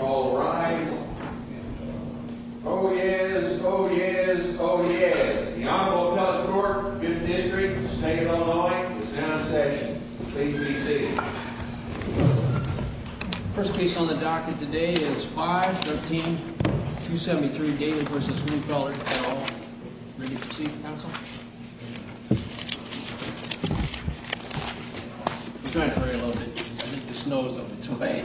All rise. Oh yes, oh yes, oh yes. The Honorable Appellate Court of the 5th District of Staten Island is now in session. Please be seated. First case on the docket today is 5-13-273, Gale v. Greesfelder, Gale. Ready to proceed, counsel? I'm trying to hurry a little bit because I think the snow is on its way.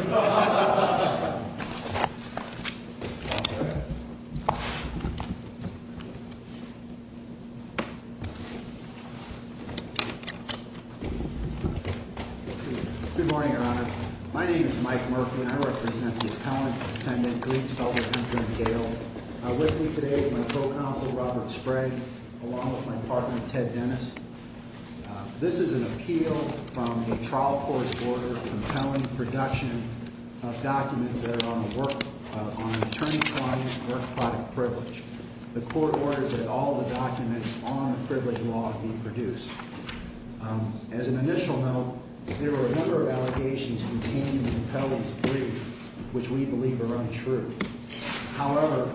Good morning, Your Honor. My name is Mike Merkman. I represent the appellant defendant, Greesfelder, Hemker & Gale. With me today is my co-counsel, Robert Sprague, along with my partner, Ted Dennis. This is an appeal from the trial court's order compelling production of documents that are on the work, on an attorney's client's work product privilege. The court orders that all the documents on the privilege law be produced. As an initial note, there were a number of allegations contained in the appellant's brief which we believe are untrue. However,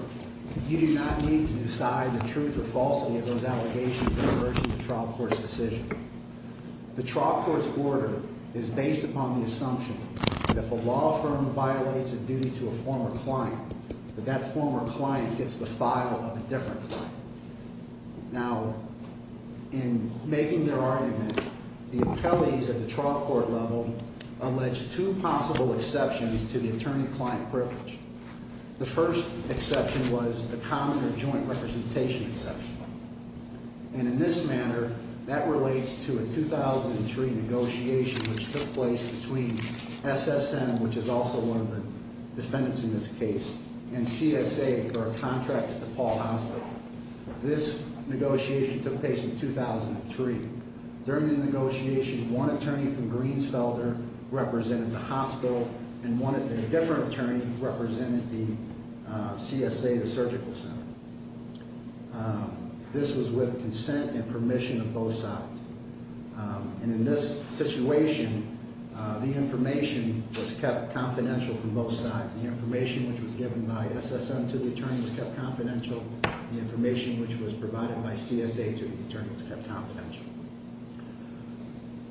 you do not need to decide the truth or falsity of those allegations in the version of the trial court's decision. The trial court's order is based upon the assumption that if a law firm violates a duty to a former client, that that former client gets the file of a different client. Now, in making their argument, the appellees at the trial court level allege two possible exceptions to the attorney-client privilege. The first exception was the common or joint representation exception. And in this manner, that relates to a 2003 negotiation which took place between SSM, which is also one of the defendants in this case, and CSA for a contract to DePaul Hospital. This negotiation took place in 2003. During the negotiation, one attorney from Greensfelder represented the hospital and a different attorney represented the CSA, the surgical center. This was with consent and permission of both sides. And in this situation, the information was kept confidential from both sides. The information which was given by SSM to the attorney was kept confidential. The information which was provided by CSA to the attorney was kept confidential.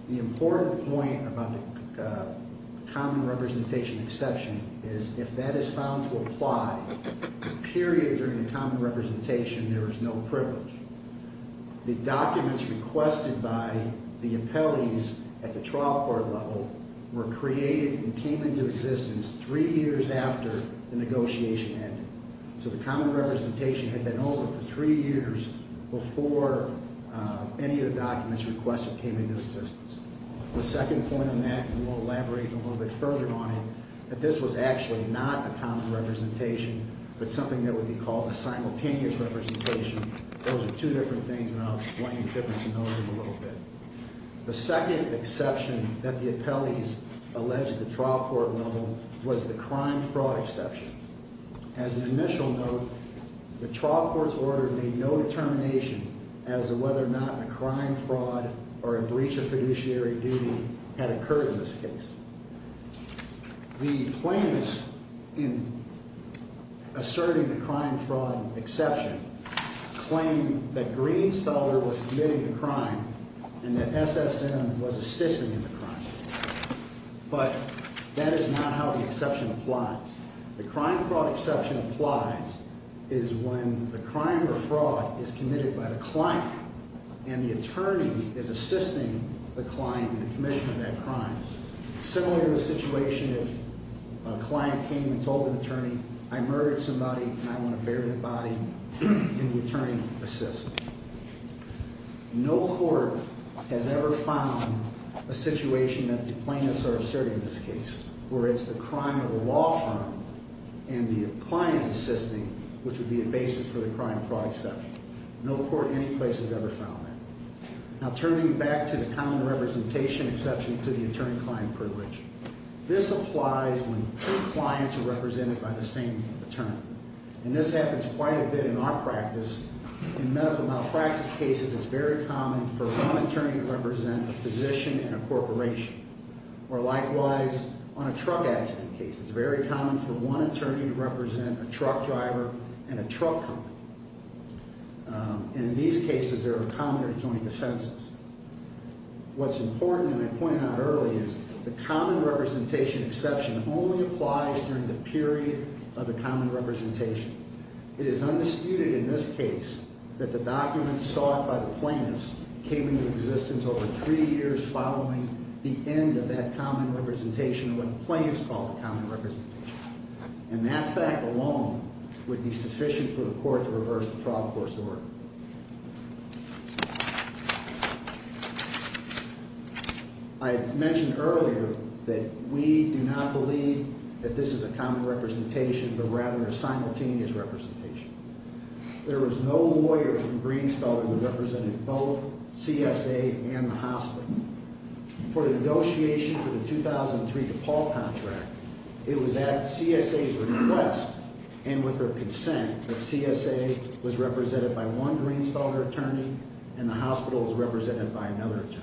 The important point about the common representation exception is if that is found to apply, the period during the common representation, there is no privilege. The documents requested by the appellees at the trial court level were created and came into existence three years after the negotiation ended. So the common representation had been over for three years before any of the documents requested came into existence. The second point on that, and we'll elaborate a little bit further on it, that this was actually not a common representation but something that would be called a simultaneous representation. Those are two different things, and I'll explain the difference in those in a little bit. The second exception that the appellees alleged at the trial court level was the crime fraud exception. As an initial note, the trial court's order made no determination as to whether or not a crime fraud or a breach of fiduciary duty had occurred in this case. The plaintiffs in asserting the crime fraud exception claimed that Greensfelder was committing the crime and that SSM was assisting in the crime. But that is not how the exception applies. The crime fraud exception applies is when the crime or fraud is committed by the client and the attorney is assisting the client in the commission of that crime. Similar to the situation if a client came and told an attorney, I murdered somebody and I want to bury the body, and the attorney assists. No court has ever found a situation that the plaintiffs are asserting in this case where it's the crime of the law firm and the client is assisting, which would be a basis for the crime fraud exception. No court in any place has ever found that. Now turning back to the common representation exception to the attorney-client privilege, this applies when two clients are represented by the same attorney. And this happens quite a bit in our practice. In medical malpractice cases, it's very common for one attorney to represent a physician in a corporation or likewise on a truck accident case. It's very common for one attorney to represent a truck driver in a truck company. And in these cases, there are common or joint offenses. What's important, and I pointed out earlier, is the common representation exception only applies during the period of the common representation. It is undisputed in this case that the documents sought by the plaintiffs came into existence over three years following the end of that common representation when the plaintiffs called the common representation. And that fact alone would be sufficient for the court to reverse the trial court's order. I mentioned earlier that we do not believe that this is a common representation but rather a simultaneous representation. There was no lawyer from Greensfelder who represented both CSA and the hospital. For the negotiation for the 2003 DePaul contract, it was at CSA's request and with their consent that CSA was represented by one Greensfelder attorney and the hospital was represented by another attorney.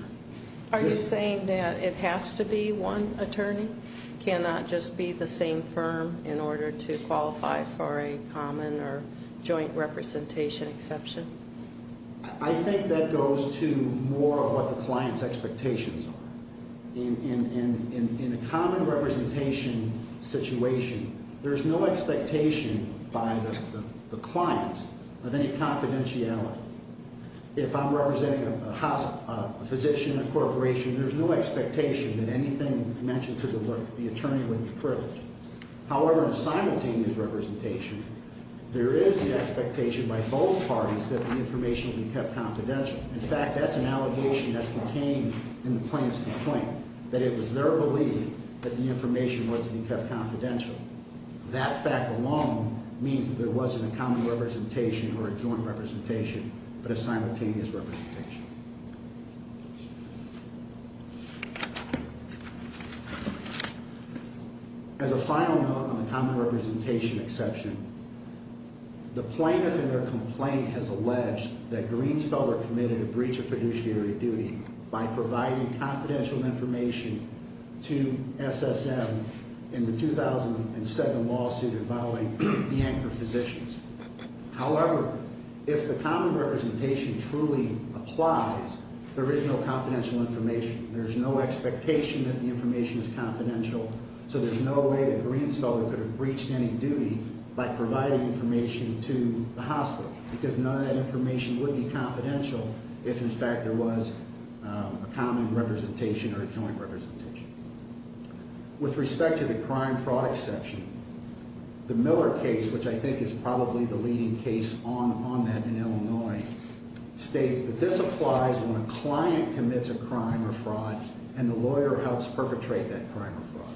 Are you saying that it has to be one attorney? Cannot just be the same firm in order to qualify for a common or joint representation exception? I think that goes to more of what the client's expectations are. In a common representation situation, there's no expectation by the clients of any confidentiality. If I'm representing a physician, a corporation, there's no expectation that anything mentioned to the attorney would be privileged. However, in a simultaneous representation, there is the expectation by both parties that the information will be kept confidential. In fact, that's an allegation that's contained in the plaintiff's complaint, that it was their belief that the information was to be kept confidential. That fact alone means that there wasn't a common representation or a joint representation but a simultaneous representation. As a final note on the common representation exception, the plaintiff in their complaint has alleged that Greensfelder committed a breach of fiduciary duty by providing confidential information to SSM in the 2007 lawsuit involving the anchor physicians. However, if the common representation truly applies, there is no confidential information. There's no expectation that the information is confidential, so there's no way that Greensfelder could have breached any duty by providing information to the hospital because none of that information would be confidential if, in fact, there was a common representation or a joint representation. With respect to the crime fraud exception, the Miller case, which I think is probably the leading case on that in Illinois, states that this applies when a client commits a crime or fraud and the lawyer helps perpetrate that crime or fraud.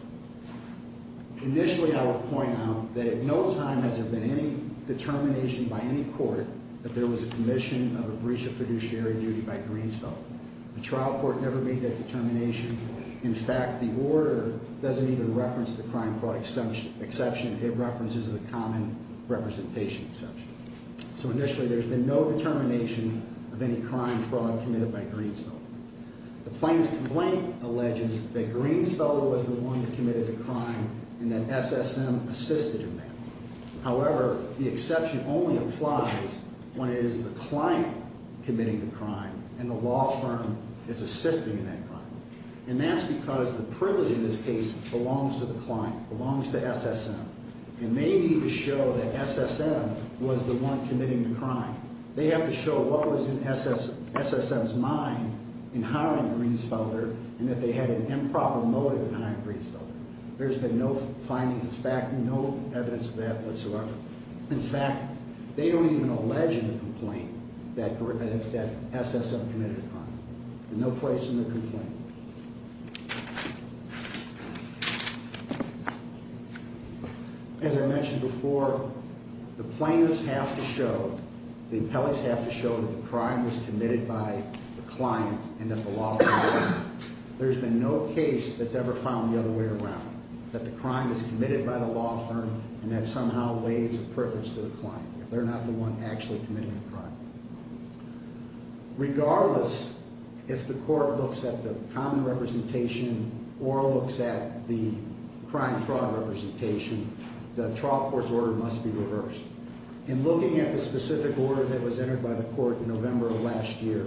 Initially, I will point out that at no time has there been any determination by any court that there was a commission of a breach of fiduciary duty by Greensfelder. The trial court never made that determination. In fact, the order doesn't even reference the crime fraud exception. It references the common representation exception. So initially, there's been no determination of any crime or fraud committed by Greensfelder. The plaintiff's complaint alleges that Greensfelder was the one who committed the crime and that SSM assisted in that. However, the exception only applies when it is the client committing the crime and the law firm is assisting in that crime. And that's because the privilege in this case belongs to the client, belongs to SSM, and they need to show that SSM was the one committing the crime. They have to show what was in SSM's mind in hiring Greensfelder and that they had an improper motive in hiring Greensfelder. There's been no findings of fact, no evidence of that whatsoever. In fact, they don't even allege in the complaint that SSM committed the crime. There's no place in the complaint. As I mentioned before, the plaintiffs have to show, the appellees have to show, that the crime was committed by the client and that the law firm assisted. There's been no case that's ever found the other way around, that the crime was committed by the law firm and that somehow waives the privilege to the client if they're not the one actually committing the crime. Regardless, if the court looks at the common representation or looks at the crime-fraud representation, the trial court's order must be reversed. In looking at the specific order that was entered by the court in November of last year,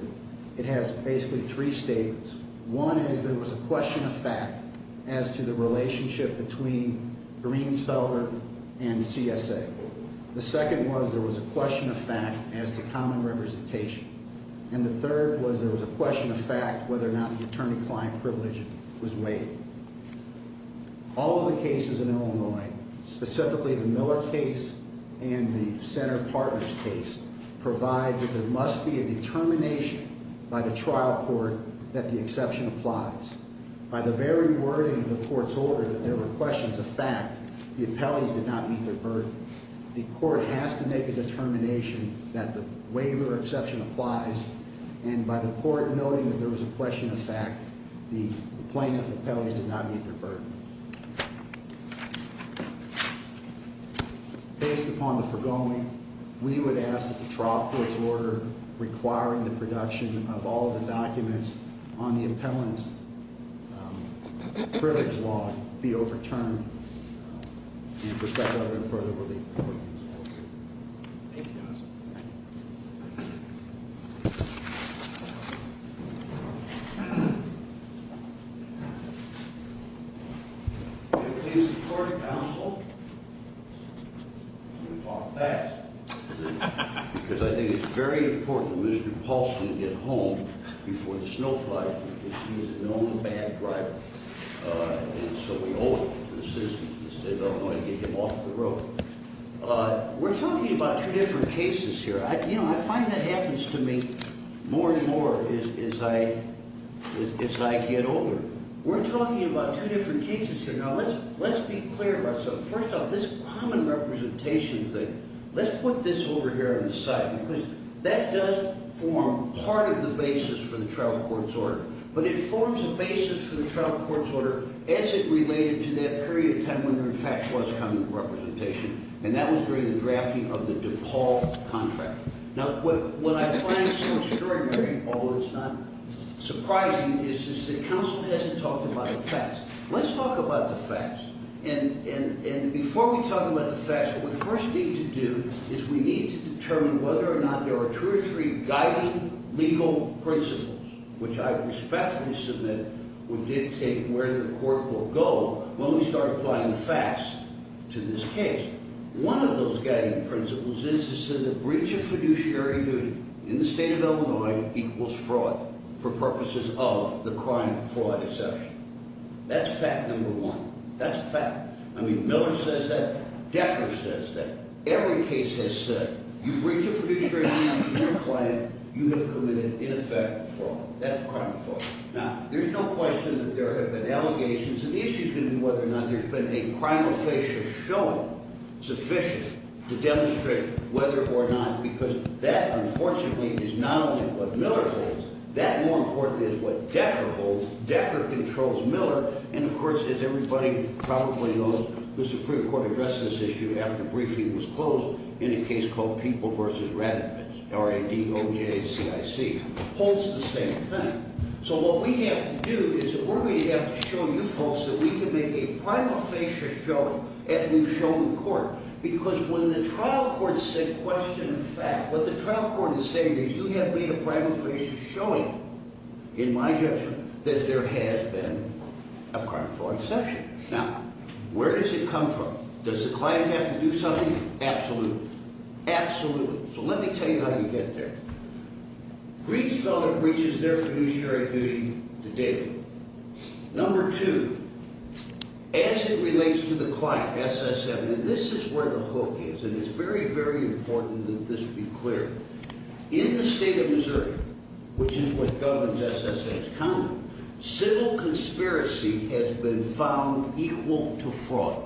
it has basically three statements. One is there was a question of fact as to the relationship between Greensfelder and CSA. The second was there was a question of fact as to common representation. And the third was there was a question of fact whether or not the attorney-client privilege was waived. All of the cases in Illinois, specifically the Miller case and the Center Partners case, provide that there must be a determination by the trial court that the exception applies. By the very wording of the court's order that there were questions of fact, the appellees did not meet their burden. The court has to make a determination that the waiver exception applies, and by the court noting that there was a question of fact, the plaintiff appellees did not meet their burden. Based upon the foregoing, we would ask that the trial court's order requiring the production of all of the documents on the appellant's privilege law be overturned in perspective of further relief. Thank you, Justice. Can I please report to counsel? We'll talk back. Because I think it's very important that Mr. Paulson get home before the snow flies. He's an old, bad driver. And so we owe it to the citizens of the state of Illinois to get him off the road. We're talking about two different cases here. You know, I find that happens to me more and more as I get older. We're talking about two different cases here. Now, let's be clear about something. First off, this common representation thing, let's put this over here on the side, because that does form part of the basis for the trial court's order, but it forms a basis for the trial court's order as it related to that period of time when there, in fact, was common representation, and that was during the drafting of the DePaul contract. Now, what I find so extraordinary, although it's not surprising, is that counsel hasn't talked about the facts. Let's talk about the facts. And before we talk about the facts, what we first need to do is we need to determine whether or not there are two or three guiding legal principles, which I respectfully submit would dictate where the court will go when we start applying the facts to this case. One of those guiding principles is that a breach of fiduciary duty in the state of Illinois equals fraud for purposes of the crime of fraud exception. That's fact number one. That's a fact. I mean, Miller says that. Decker says that. Every case has said, you breach of fiduciary duty in your client, you have committed, in effect, fraud. That's crime of fraud. Now, there's no question that there have been allegations, and the issue is going to be whether or not there's been a crime of facial showing sufficient to demonstrate whether or not, because that, unfortunately, is not only what Miller holds. That, more importantly, is what Decker holds. Decker controls Miller. And, of course, as everybody probably knows, the Supreme Court addressed this issue after briefing was closed in a case called People v. Raddatz, R-A-D-O-J-C-I-C. It holds the same thing. So what we have to do is we're going to have to show you folks that we can make a crime of facial showing if we've shown the court. Because when the trial court said question of fact, what the trial court is saying is you have made a crime of facial showing, in my judgment, that there has been a crime of fraud exception. Now, where does it come from? Does the client have to do something? Absolutely. Absolutely. So let me tell you how you get there. Breach felon breaches their fiduciary duty to date. Number two, as it relates to the client, SSM, and this is where the hook is, and it's very, very important that this be clear. In the state of Missouri, which is what governs SSS County, civil conspiracy has been found equal to fraud.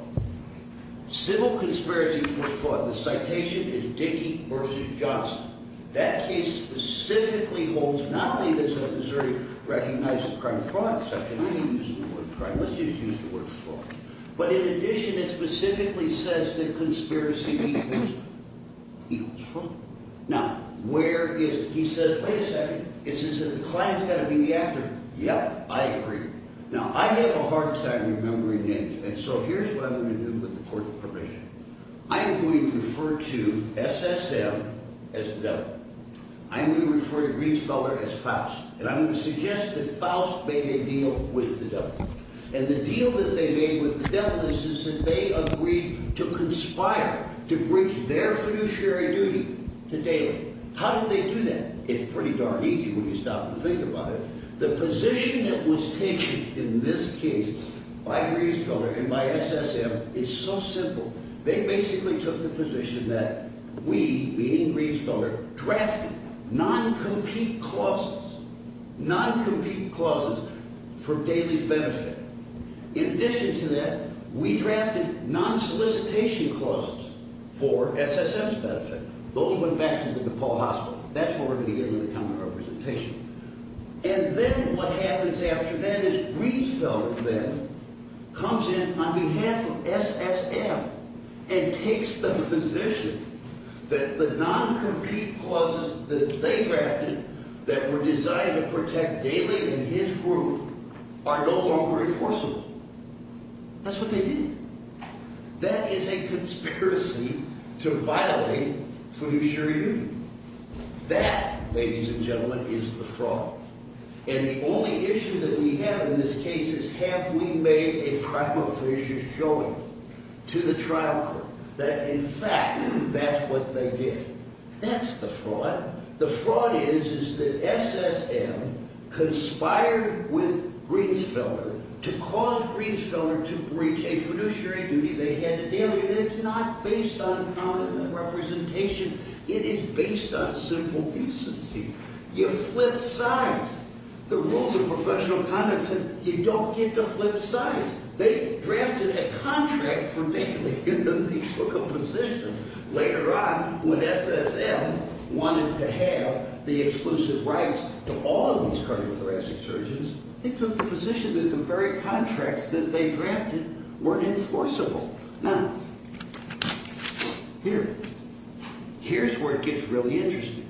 Civil conspiracy equals fraud. The citation is Dickey v. Johnson. That case specifically holds not only does Missouri recognize the crime of fraud exception. I'm not even using the word crime. Let's just use the word fraud. But in addition, it specifically says that conspiracy equals fraud. Now, where is it? He says, wait a second. It says the client's got to be the actor. Yep, I agree. Now, I have a hard time remembering names, and so here's what I'm going to do with the court of probation. I'm going to refer to SSM as the devil. I'm going to refer to Riesfelder as Faust, and I'm going to suggest that Faust made a deal with the devil. And the deal that they made with the devil is that they agreed to conspire to breach their fiduciary duty to date. How did they do that? It's pretty darn easy when you stop and think about it. The position that was taken in this case by Riesfelder and by SSM is so simple. They basically took the position that we, meaning Riesfelder, drafted non-compete clauses, non-compete clauses for daily benefit. In addition to that, we drafted non-solicitation clauses for SSM's benefit. Those went back to the DePaul hospital. That's what we're going to get in the common representation. And then what happens after that is Riesfelder then comes in on behalf of SSM and takes the position that the non-compete clauses that they drafted that were designed to protect daily and his group are no longer enforceable. That's what they did. That is a conspiracy to violate fiduciary duty. That, ladies and gentlemen, is the fraud. And the only issue that we have in this case is have we made a crime of fiduciary duty showing to the trial court that, in fact, that's what they did. That's the fraud. The fraud is that SSM conspired with Riesfelder to cause Riesfelder to breach a fiduciary duty they had to deal with. And it's not based on common representation. It is based on simple decency. You flip sides. The rules of professional conduct said you don't get to flip sides. They drafted a contract for making them. They took a position. Later on, when SSM wanted to have the exclusive rights to all of these cardiothoracic surgeons, they took the position that the very contracts that they drafted weren't enforceable. Now, here. Here's where it gets really interesting.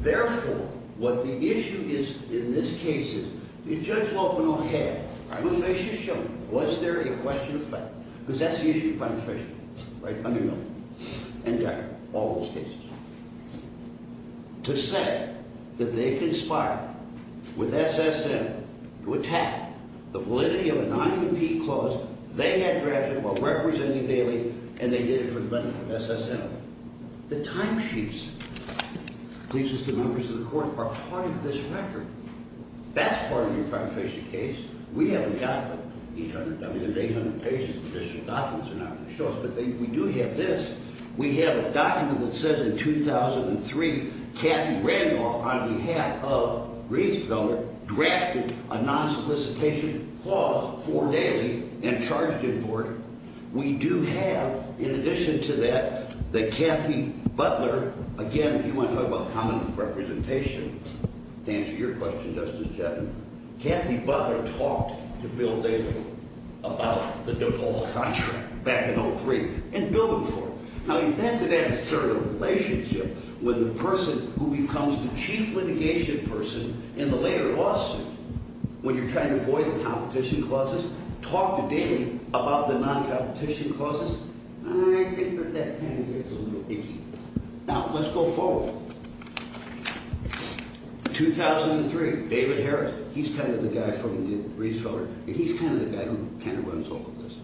Therefore, what the issue is in this case is that Judge Lopino had a crime of fiduciary duty shown. Was there a question of fact? Because that's the issue of crime of fiduciary duty, right? Under Miller. And Decker. All those cases. To say that they conspired with SSM to attack the validity of an IEP clause they had drafted while representing Bailey, and they did it for the benefit of SSM. The timesheets, pleases the members of the court, are part of this record. That's part of the crime of fiduciary case. We haven't got 800. I mean, there's 800 pages of additional documents they're not going to show us, but we do have this. We have a document that says, in 2003, Kathy Randolph, on behalf of Rietzfelder, drafted a non-solicitation clause for Bailey and charged him for it. We do have, in addition to that, the Kathy Butler. Again, if you want to talk about common representation, to answer your question, Justice Chaffin, Kathy Butler talked to Bill Bailey about the DuPaul contract back in 2003 and billed him for it. Now, if that's an adversarial relationship with the person who becomes the chief litigation person in the later lawsuit, when you're trying to avoid the competition clauses, talk to David about the non-competition clauses, I think that that kind of gets a little icky. Now, let's go forward. In 2003, David Harris, he's kind of the guy from the Rietzfelder, and he's kind of the guy who kind of runs all of this.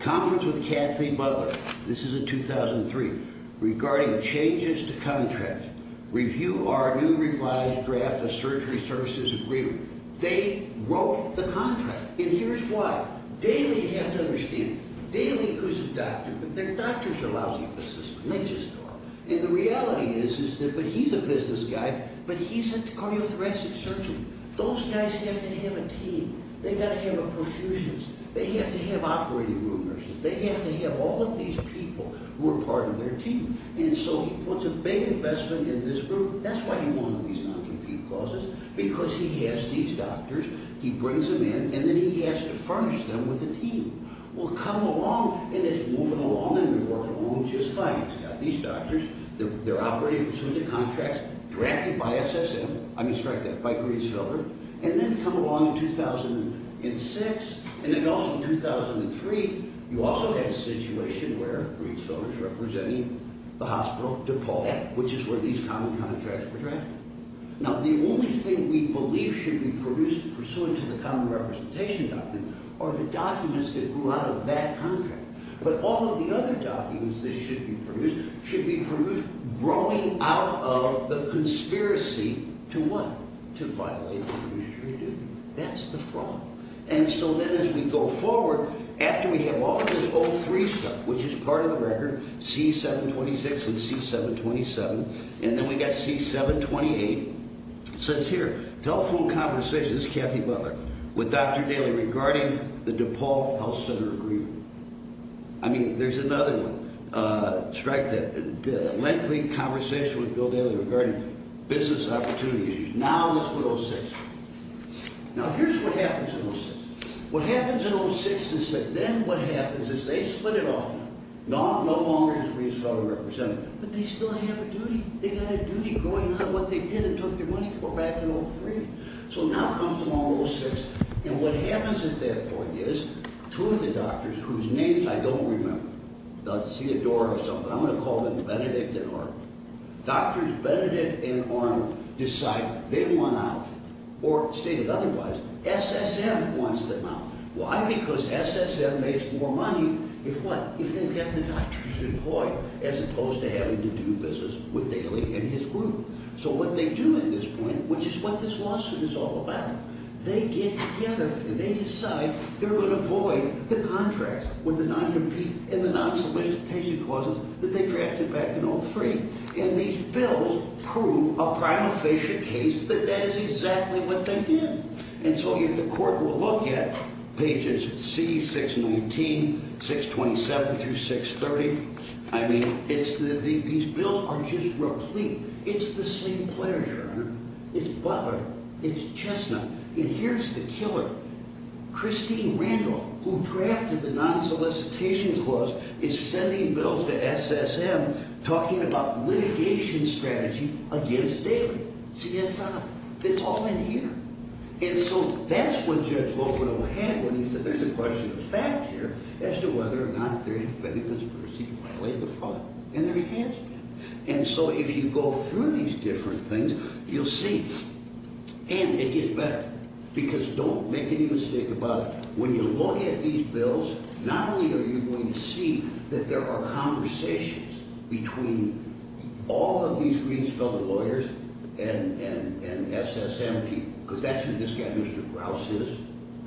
Conference with Kathy Butler, this is in 2003, regarding changes to contracts. Review our new revised draft of surgery services agreement. They wrote the contract, and here's why. Bailey had to understand it. Bailey, who's a doctor, but their doctors are lousy physicists, and they just are. And the reality is that he's a business guy, but he's a cardiothoracic surgeon. Those guys have to have a team. They've got to have a profusion. They have to have operating room nurses. They have to have all of these people who are part of their team. And so he puts a big investment in this group. That's why he wanted these non-compete clauses, because he has these doctors, he brings them in, and then he has to furnish them with a team. Well, come along, and it's moving along, and we're working along just fine. He's got these doctors. They're operating pursuant to contracts drafted by SSM. I'm going to strike that, by Rietzfelder. And then come along in 2006, and then also in 2003, you also had a situation where Rietzfelder's representing the hospital DePaul, which is where these common contracts were drafted. Now, the only thing we believe should be produced pursuant to the Common Representation Doctrine are the documents that grew out of that contract. But all of the other documents that should be produced should be produced growing out of the conspiracy to what? To violate the registry duty. That's the fraud. And so then as we go forward, after we have all of this 03 stuff, which is part of the record, C726 and C727, and then we've got C728, it says here, telephone conversations, Kathy Butler, with Dr. Daley regarding the DePaul Health Center agreement. I mean, there's another one. Strike that. Lengthy conversation with Bill Daley regarding business opportunity issues. Now, let's put 06. Now, here's what happens in 06. What happens in 06 is that then what happens is they split it off now. No longer is Rietzfelder represented. But they still have a duty. They've got a duty going on what they did and took their money for back in 03. So now comes along 06. And what happens at that point is two of the doctors whose names I don't remember. I see a door or something. I'm going to call them Benedict and Arnold. Doctors Benedict and Arnold decide they want out. Or stated otherwise, SSM wants them out. Why? Because SSM makes more money. If what? If they get the doctors employed as opposed to having to do business with Daley and his group. So what they do at this point, which is what this lawsuit is all about, they get together and they decide they're going to void the contracts with the non-competing and the non-solicitation clauses that they drafted back in 03. And these bills prove a prima facie case that that is exactly what they did. And so the court will look at pages C, 619, 627 through 630. I mean, these bills are just replete. It's the same players, Your Honor. It's Butler. It's Chesna. And here's the killer. Christine Randall, who drafted the non-solicitation clause, is sending bills to SSM talking about litigation strategy against Daley. CSI. It's all in here. And so that's what Judge Lopino had when he said there's a question of fact here as to whether or not there has been a conspiracy to violate the fraud. And there has been. And so if you go through these different things, you'll see. And it gets better. Because don't make any mistake about it. When you look at these bills, not only are you going to see that there are conversations between all of these Greens fellow lawyers and SSM people. Because that's who this guy, Mr. Grouse, is.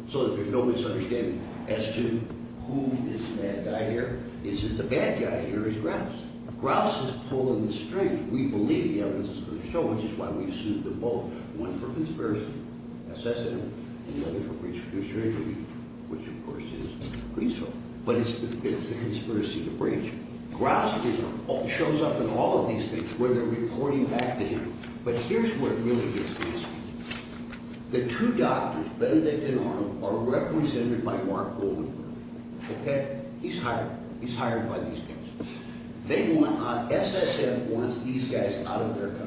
So there's no misunderstanding as to who is the bad guy here. It's that the bad guy here is Grouse. Grouse is pulling the strings. We believe the evidence is going to show, which is why we've sued them both, one for conspiracy, SSM, and the other for breach of fiduciary duty, which, of course, is Greensville. But it's the conspiracy to breach. Grouse shows up in all of these things where they're reporting back to him. But here's where it really gets messy. The two doctors, Benedict and Arnold, are represented by Mark Goldenberg. Okay? He's hired. He's hired by these guys. SSM wants these guys out of their country.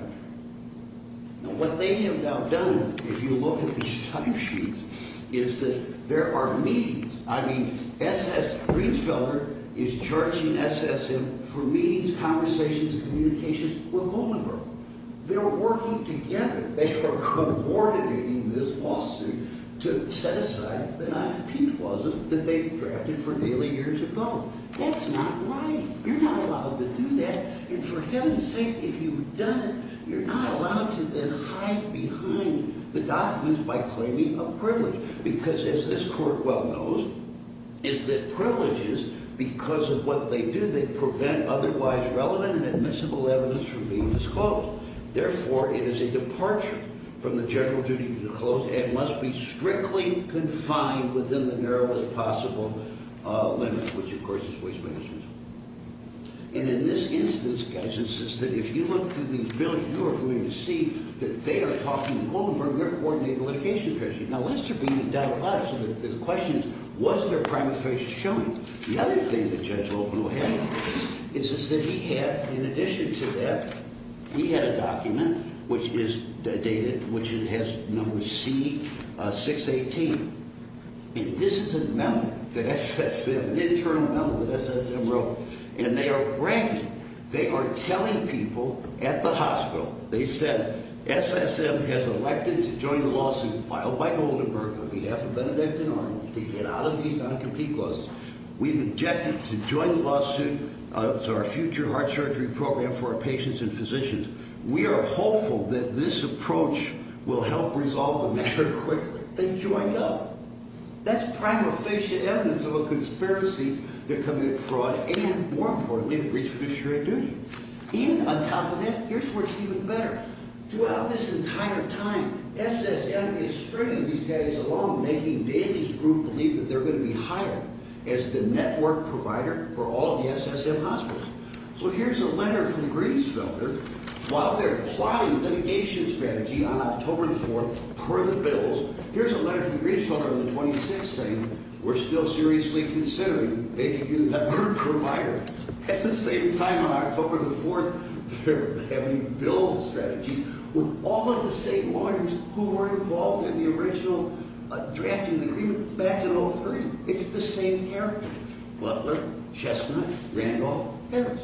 Now, what they have now done, if you look at these timesheets, is that there are meetings. I mean, Greensville is charging SSM for meetings, conversations, and communications with Goldenberg. They're working together. They are coordinating this lawsuit to set aside the non-compete clauses that they drafted for nearly years ago. That's not right. You're not allowed to do that. And for heaven's sake, if you've done it, you're not allowed to then hide behind the documents by claiming a privilege. Because, as this court well knows, is that privileges, because of what they do, they prevent otherwise relevant and admissible evidence from being disclosed. Therefore, it is a departure from the general duty to disclose and must be strictly confined within the narrowest possible limit, which, of course, is waste management. And in this instance, guys, it's just that if you look through these bills, you are going to see that they are talking to Goldenberg, their coordinating litigation treasurer. Now, let's turn to Donald Patterson. The question is, was there primary facial showing? The other thing that Judge Loeben will have is that he had, in addition to that, he had a document which is dated, which has number C-618. And this is a memo that SSM, an internal memo that SSM wrote. And they are bragging. They are telling people at the hospital. They said SSM has elected to join the lawsuit filed by Goldenberg on behalf of Benedictine Army to get out of these non-compete clauses. We've objected to join the lawsuit to our future heart surgery program for our patients and physicians. We are hopeful that this approach will help resolve the matter quickly. They joined up. That's primary facial evidence of a conspiracy to commit fraud and, more importantly, to breach fiduciary duty. And on top of that, here's where it's even better. Throughout this entire time, SSM is stringing these guys along, making David's group believe that they're going to be hired as the network provider for all the SSM hospitals. So here's a letter from Grieffelter. While they're plotting litigation strategy on October the 4th per the bills, here's a letter from Grieffelter on the 26th saying, We're still seriously considering making you the network provider. At the same time, on October the 4th, they're having bill strategies with all of the same lawyers who were involved in the original drafting the agreement back in 2003. It's the same character. Butler, Chestnut, Randolph, Harris.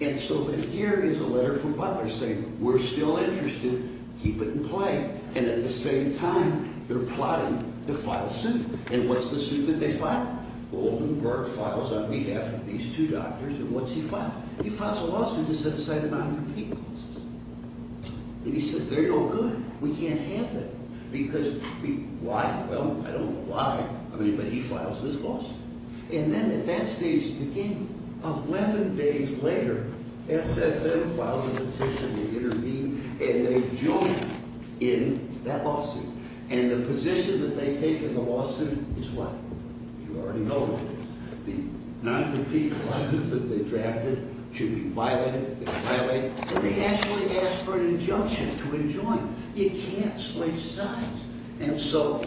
And so then here is a letter from Butler saying, We're still interested. Keep it in play. And at the same time, they're plotting to file suit. And what's the suit that they file? Goldenberg files on behalf of these two doctors. And what's he file? He files a lawsuit to set aside the non-competing lawsuits. And he says, They're no good. We can't have them. Because why? Well, I don't know why. I mean, but he files this lawsuit. And then at that stage, again, 11 days later, SSM files a petition to intervene. And they join in that lawsuit. And the position that they take in the lawsuit is what? You already know. The non-competing lawsuits that they drafted should be violated. They violate. And they actually ask for an injunction to enjoin. You can't switch sides. And so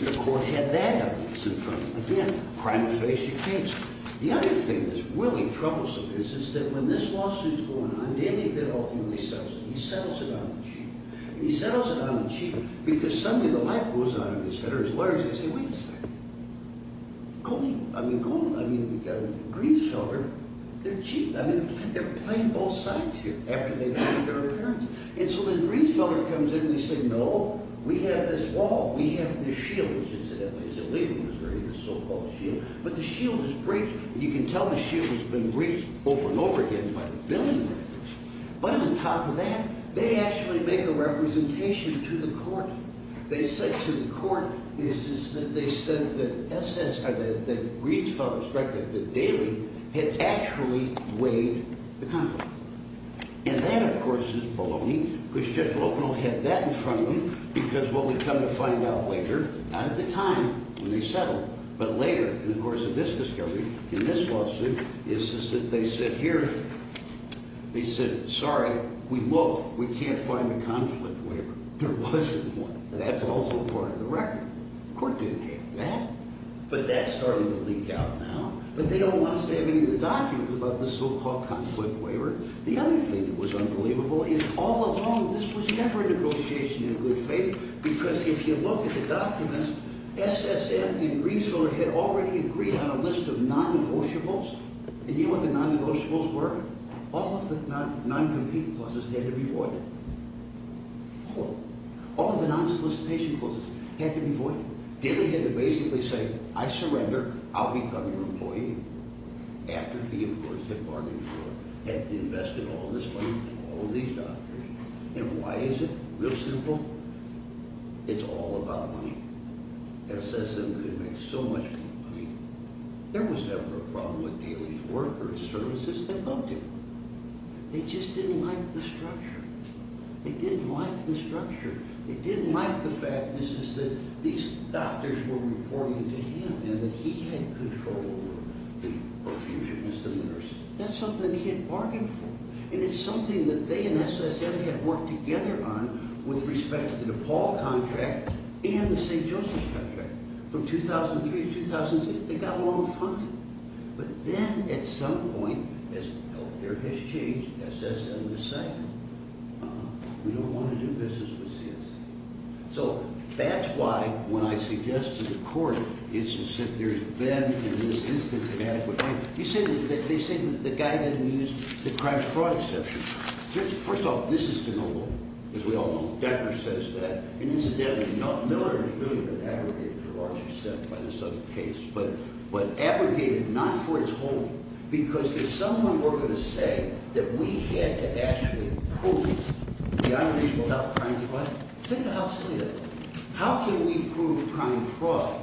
the court had that evidence in front of them. Again, crime of facial case. The other thing that's really troublesome is that when this lawsuit is going on, Danny Vidal ultimately settles it. He settles it on the cheap. He settles it on the cheap because suddenly the light goes on in his head, or his lawyers, and they say, Wait a second. Go on. I mean, Greenfelder, they're cheap. I mean, they're playing both sides here after they've made their appearance. And so then Greenfelder comes in and they say, No, we have this wall. We have the shields, incidentally. He said, Leave them. It's a so-called shield. But the shield is breached. And you can tell the shield has been breached over and over again by the billing records. But on top of that, they actually make a representation to the court. They said to the court, they said that Greenfelder's record, the daily, had actually weighed the conflict. And that, of course, is baloney because Judge Lopino had that in front of him because what we come to find out later, not at the time when they settled, but later in the course of this discovery, in this lawsuit, is that they sit here. They said, Sorry, we looked. We can't find the conflict waiver. There wasn't one. That's also part of the record. The court didn't have that. But that's starting to leak out now. But they don't want us to have any of the documents about the so-called conflict waiver. The other thing that was unbelievable is all along this was never a negotiation in good faith because if you look at the documents, SSM and Greenfelder had already agreed on a list of non-negotiables. And you know what the non-negotiables were? All of the non-competing clauses had to be voided. All of the non-solicitation clauses had to be voided. Daily had to basically say, I surrender. I'll become your employee. After he, of course, had bargained for it, had invested all this money in all of these documents. And why is it? Real simple. It's all about money. SSM could make so much money. There was never a problem with Daily's workers, services. They loved him. They just didn't like the structure. They didn't like the structure. They didn't like the fact that these doctors were reporting to him and that he had control over the profusionists and the nurses. That's something he had bargained for. And it's something that they and SSM had worked together on with respect to the DePaul contract and the St. Joseph's contract. From 2003 to 2006, they got along fine. But then at some point, as health care has changed, SSM decided, uh-uh, we don't want to do this as a CSC. So that's why, when I suggest to the court, it's to sit there in bed in this instance of adequate time. You say that they say that the guy didn't use the crime-fraud exception. First off, this is de novo, as we all know. Decker says that. And incidentally, Miller has really been abrogated to a large extent by this other case, but abrogated not for its whole. Because if someone were going to say that we had to actually prove the other people about crime-fraud, think about how silly that would be. How can we prove crime-fraud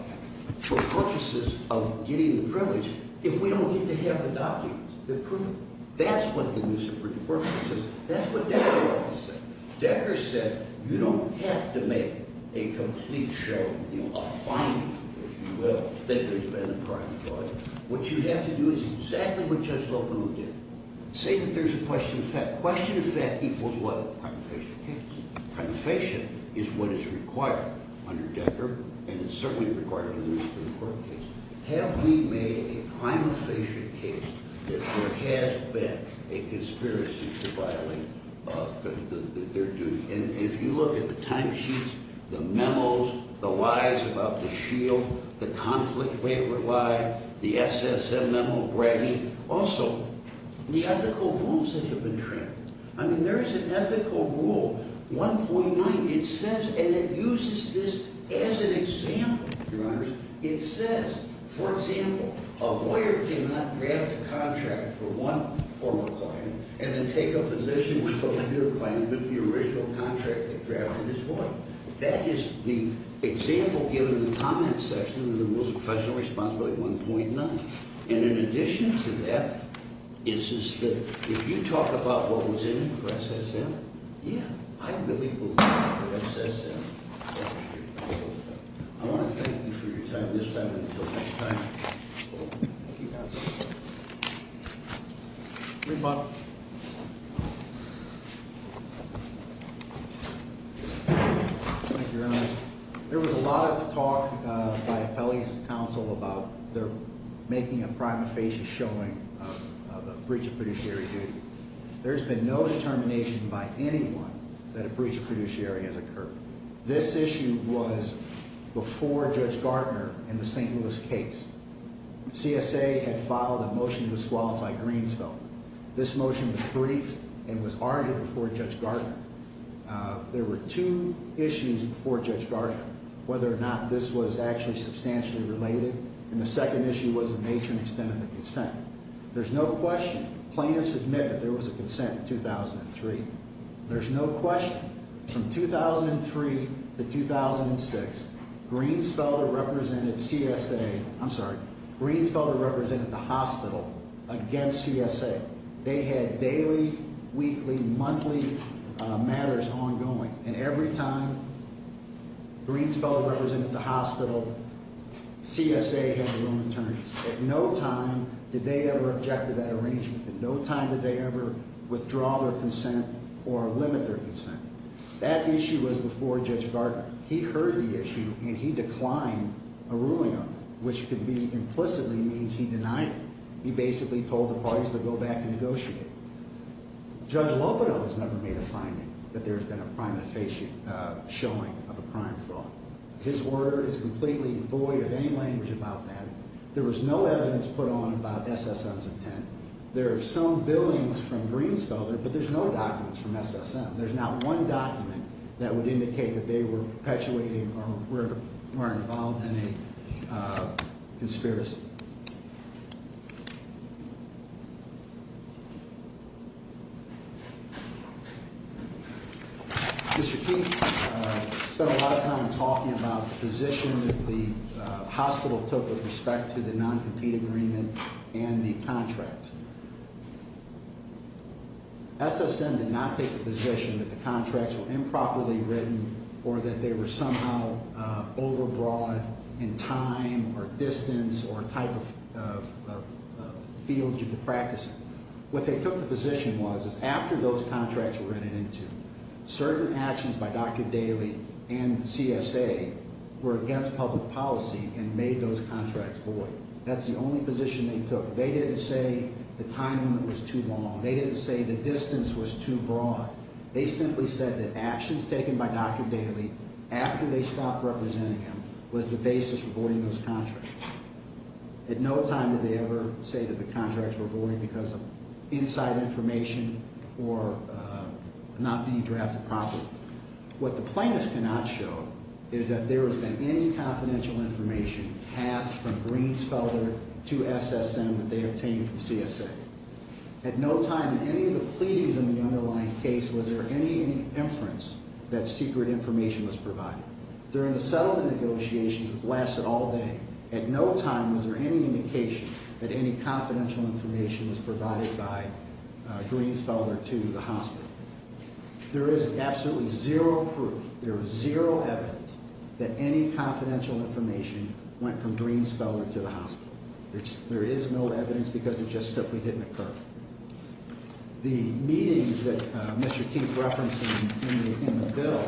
for purposes of getting the privilege if we don't get to have the documents that prove it? That's what the use of the word is. That's what Decker always said. Decker said, you don't have to make a complete show, you know, a finding, if you will, that there's been a crime-fraud. What you have to do is exactly what Judge Loebl did. Say that there's a question of fact. Question of fact equals what? Crime-of-patient is what is required under Decker, and it's certainly required in the Newspaper Court case. Have we made a crime-of-patient case that there has been a conspiracy to violate their duty? And if you look at the timesheets, the memos, the lies about the shield, the conflict waiver lie, the SSM memo bragging, also the ethical wounds that have been trained. I mean, there is an ethical rule, 1.9, it says, and it uses this as an example, Your Honors. It says, for example, a lawyer cannot draft a contract for one former client and then take a position with a later client that the original contract they drafted is void. That is the example given in the comments section of the Rules of Professional Responsibility 1.9. And in addition to that, it says that if you talk about what was in it for SSM, yeah, I really believe it was for SSM. I want to thank you for your time this time and until next time. Thank you, Counsel. Thank you, Your Honors. There was a lot of talk by appellees of counsel about their making a crime-of-patient showing of a breach of fiduciary duty. There has been no determination by anyone that a breach of fiduciary has occurred. This issue was before Judge Gardner in the St. Louis case. CSA had filed a motion to disqualify Greensville. This motion was briefed and was argued before Judge Gardner. There were two issues before Judge Gardner, whether or not this was actually substantially related. And the second issue was the nature and extent of the consent. There's no question. Plaintiffs admitted there was a consent in 2003. There's no question. From 2003 to 2006, Greensville represented the hospital against CSA. They had daily, weekly, monthly matters ongoing. And every time Greensville represented the hospital, CSA had their own attorneys. At no time did they ever object to that arrangement. At no time did they ever withdraw their consent or limit their consent. That issue was before Judge Gardner. He heard the issue and he declined a ruling on it, which could be implicitly means he denied it. He basically told the parties to go back and negotiate. Judge Lobedo has never made a finding that there's been a prime showing of a crime fraud. His word is completely void of any language about that. There was no evidence put on about SSM's intent. There are some billings from Greensville, but there's no documents from SSM. There's not one document that would indicate that they were perpetuating or were involved in a conspiracy. Mr. Keith spent a lot of time talking about the position that the hospital took with respect to the non-compete agreement and the contracts. SSM did not take the position that the contracts were improperly written or that they were somehow overbroad in time or distance or type of field you could practice in. What they took the position was is after those contracts were written into, certain actions by Dr. Daley and CSA were against public policy and made those contracts void. That's the only position they took. They didn't say the time limit was too long. They didn't say the distance was too broad. They simply said that actions taken by Dr. Daley after they stopped representing him was the basis for voiding those contracts. At no time did they ever say that the contracts were void because of inside information or not being drafted properly. What the plaintiffs cannot show is that there has been any confidential information passed from Greensfelder to SSM that they obtained from CSA. At no time in any of the pleadings in the underlying case was there any inference that secret information was provided. During the settlement negotiations which lasted all day, at no time was there any indication that any confidential information was provided by Greensfelder to the hospital. There is absolutely zero proof, there is zero evidence that any confidential information went from Greensfelder to the hospital. There is no evidence because it just simply didn't occur. The meetings that Mr. King referenced in the bill,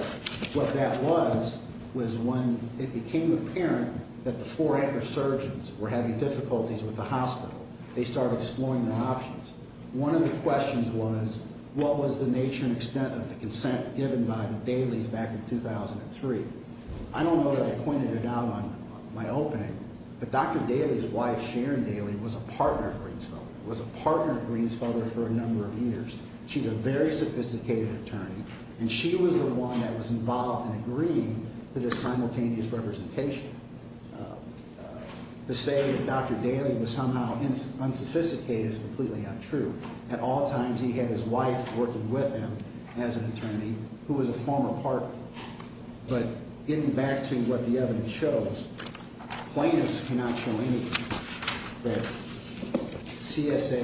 what that was was when it became apparent that the four anchor surgeons were having difficulties with the hospital. They started exploring their options. One of the questions was what was the nature and extent of the consent given by the Daley's back in 2003. I don't know that I pointed it out on my opening, but Dr. Daley's wife Sharon Daley was a partner of Greensfelder, was a partner of Greensfelder for a number of years. She's a very sophisticated attorney and she was the one that was involved in agreeing to this simultaneous representation. To say that Dr. Daley was somehow unsophisticated is completely untrue. At all times he had his wife working with him as an attorney who was a former partner. But getting back to what the evidence shows, plaintiffs cannot show anything that CSA,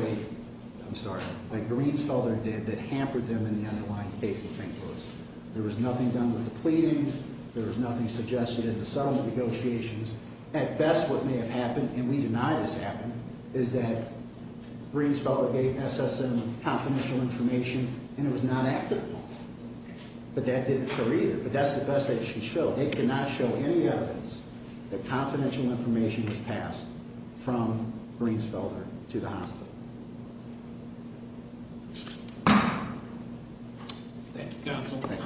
I'm sorry, that Greensfelder did that hampered them in the underlying case in St. Louis. There was nothing done with the pleadings. There was nothing suggested in the settlement negotiations. At best what may have happened, and we deny this happened, is that Greensfelder gave SSM confidential information and it was not active. But that didn't show either. But that's the best they can show. They cannot show any evidence that confidential information was passed from Greensfelder to the hospital. Thank you, counsel. The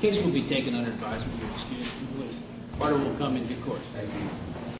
case will be taken under advisement of the students. The court will come into court. Thank you.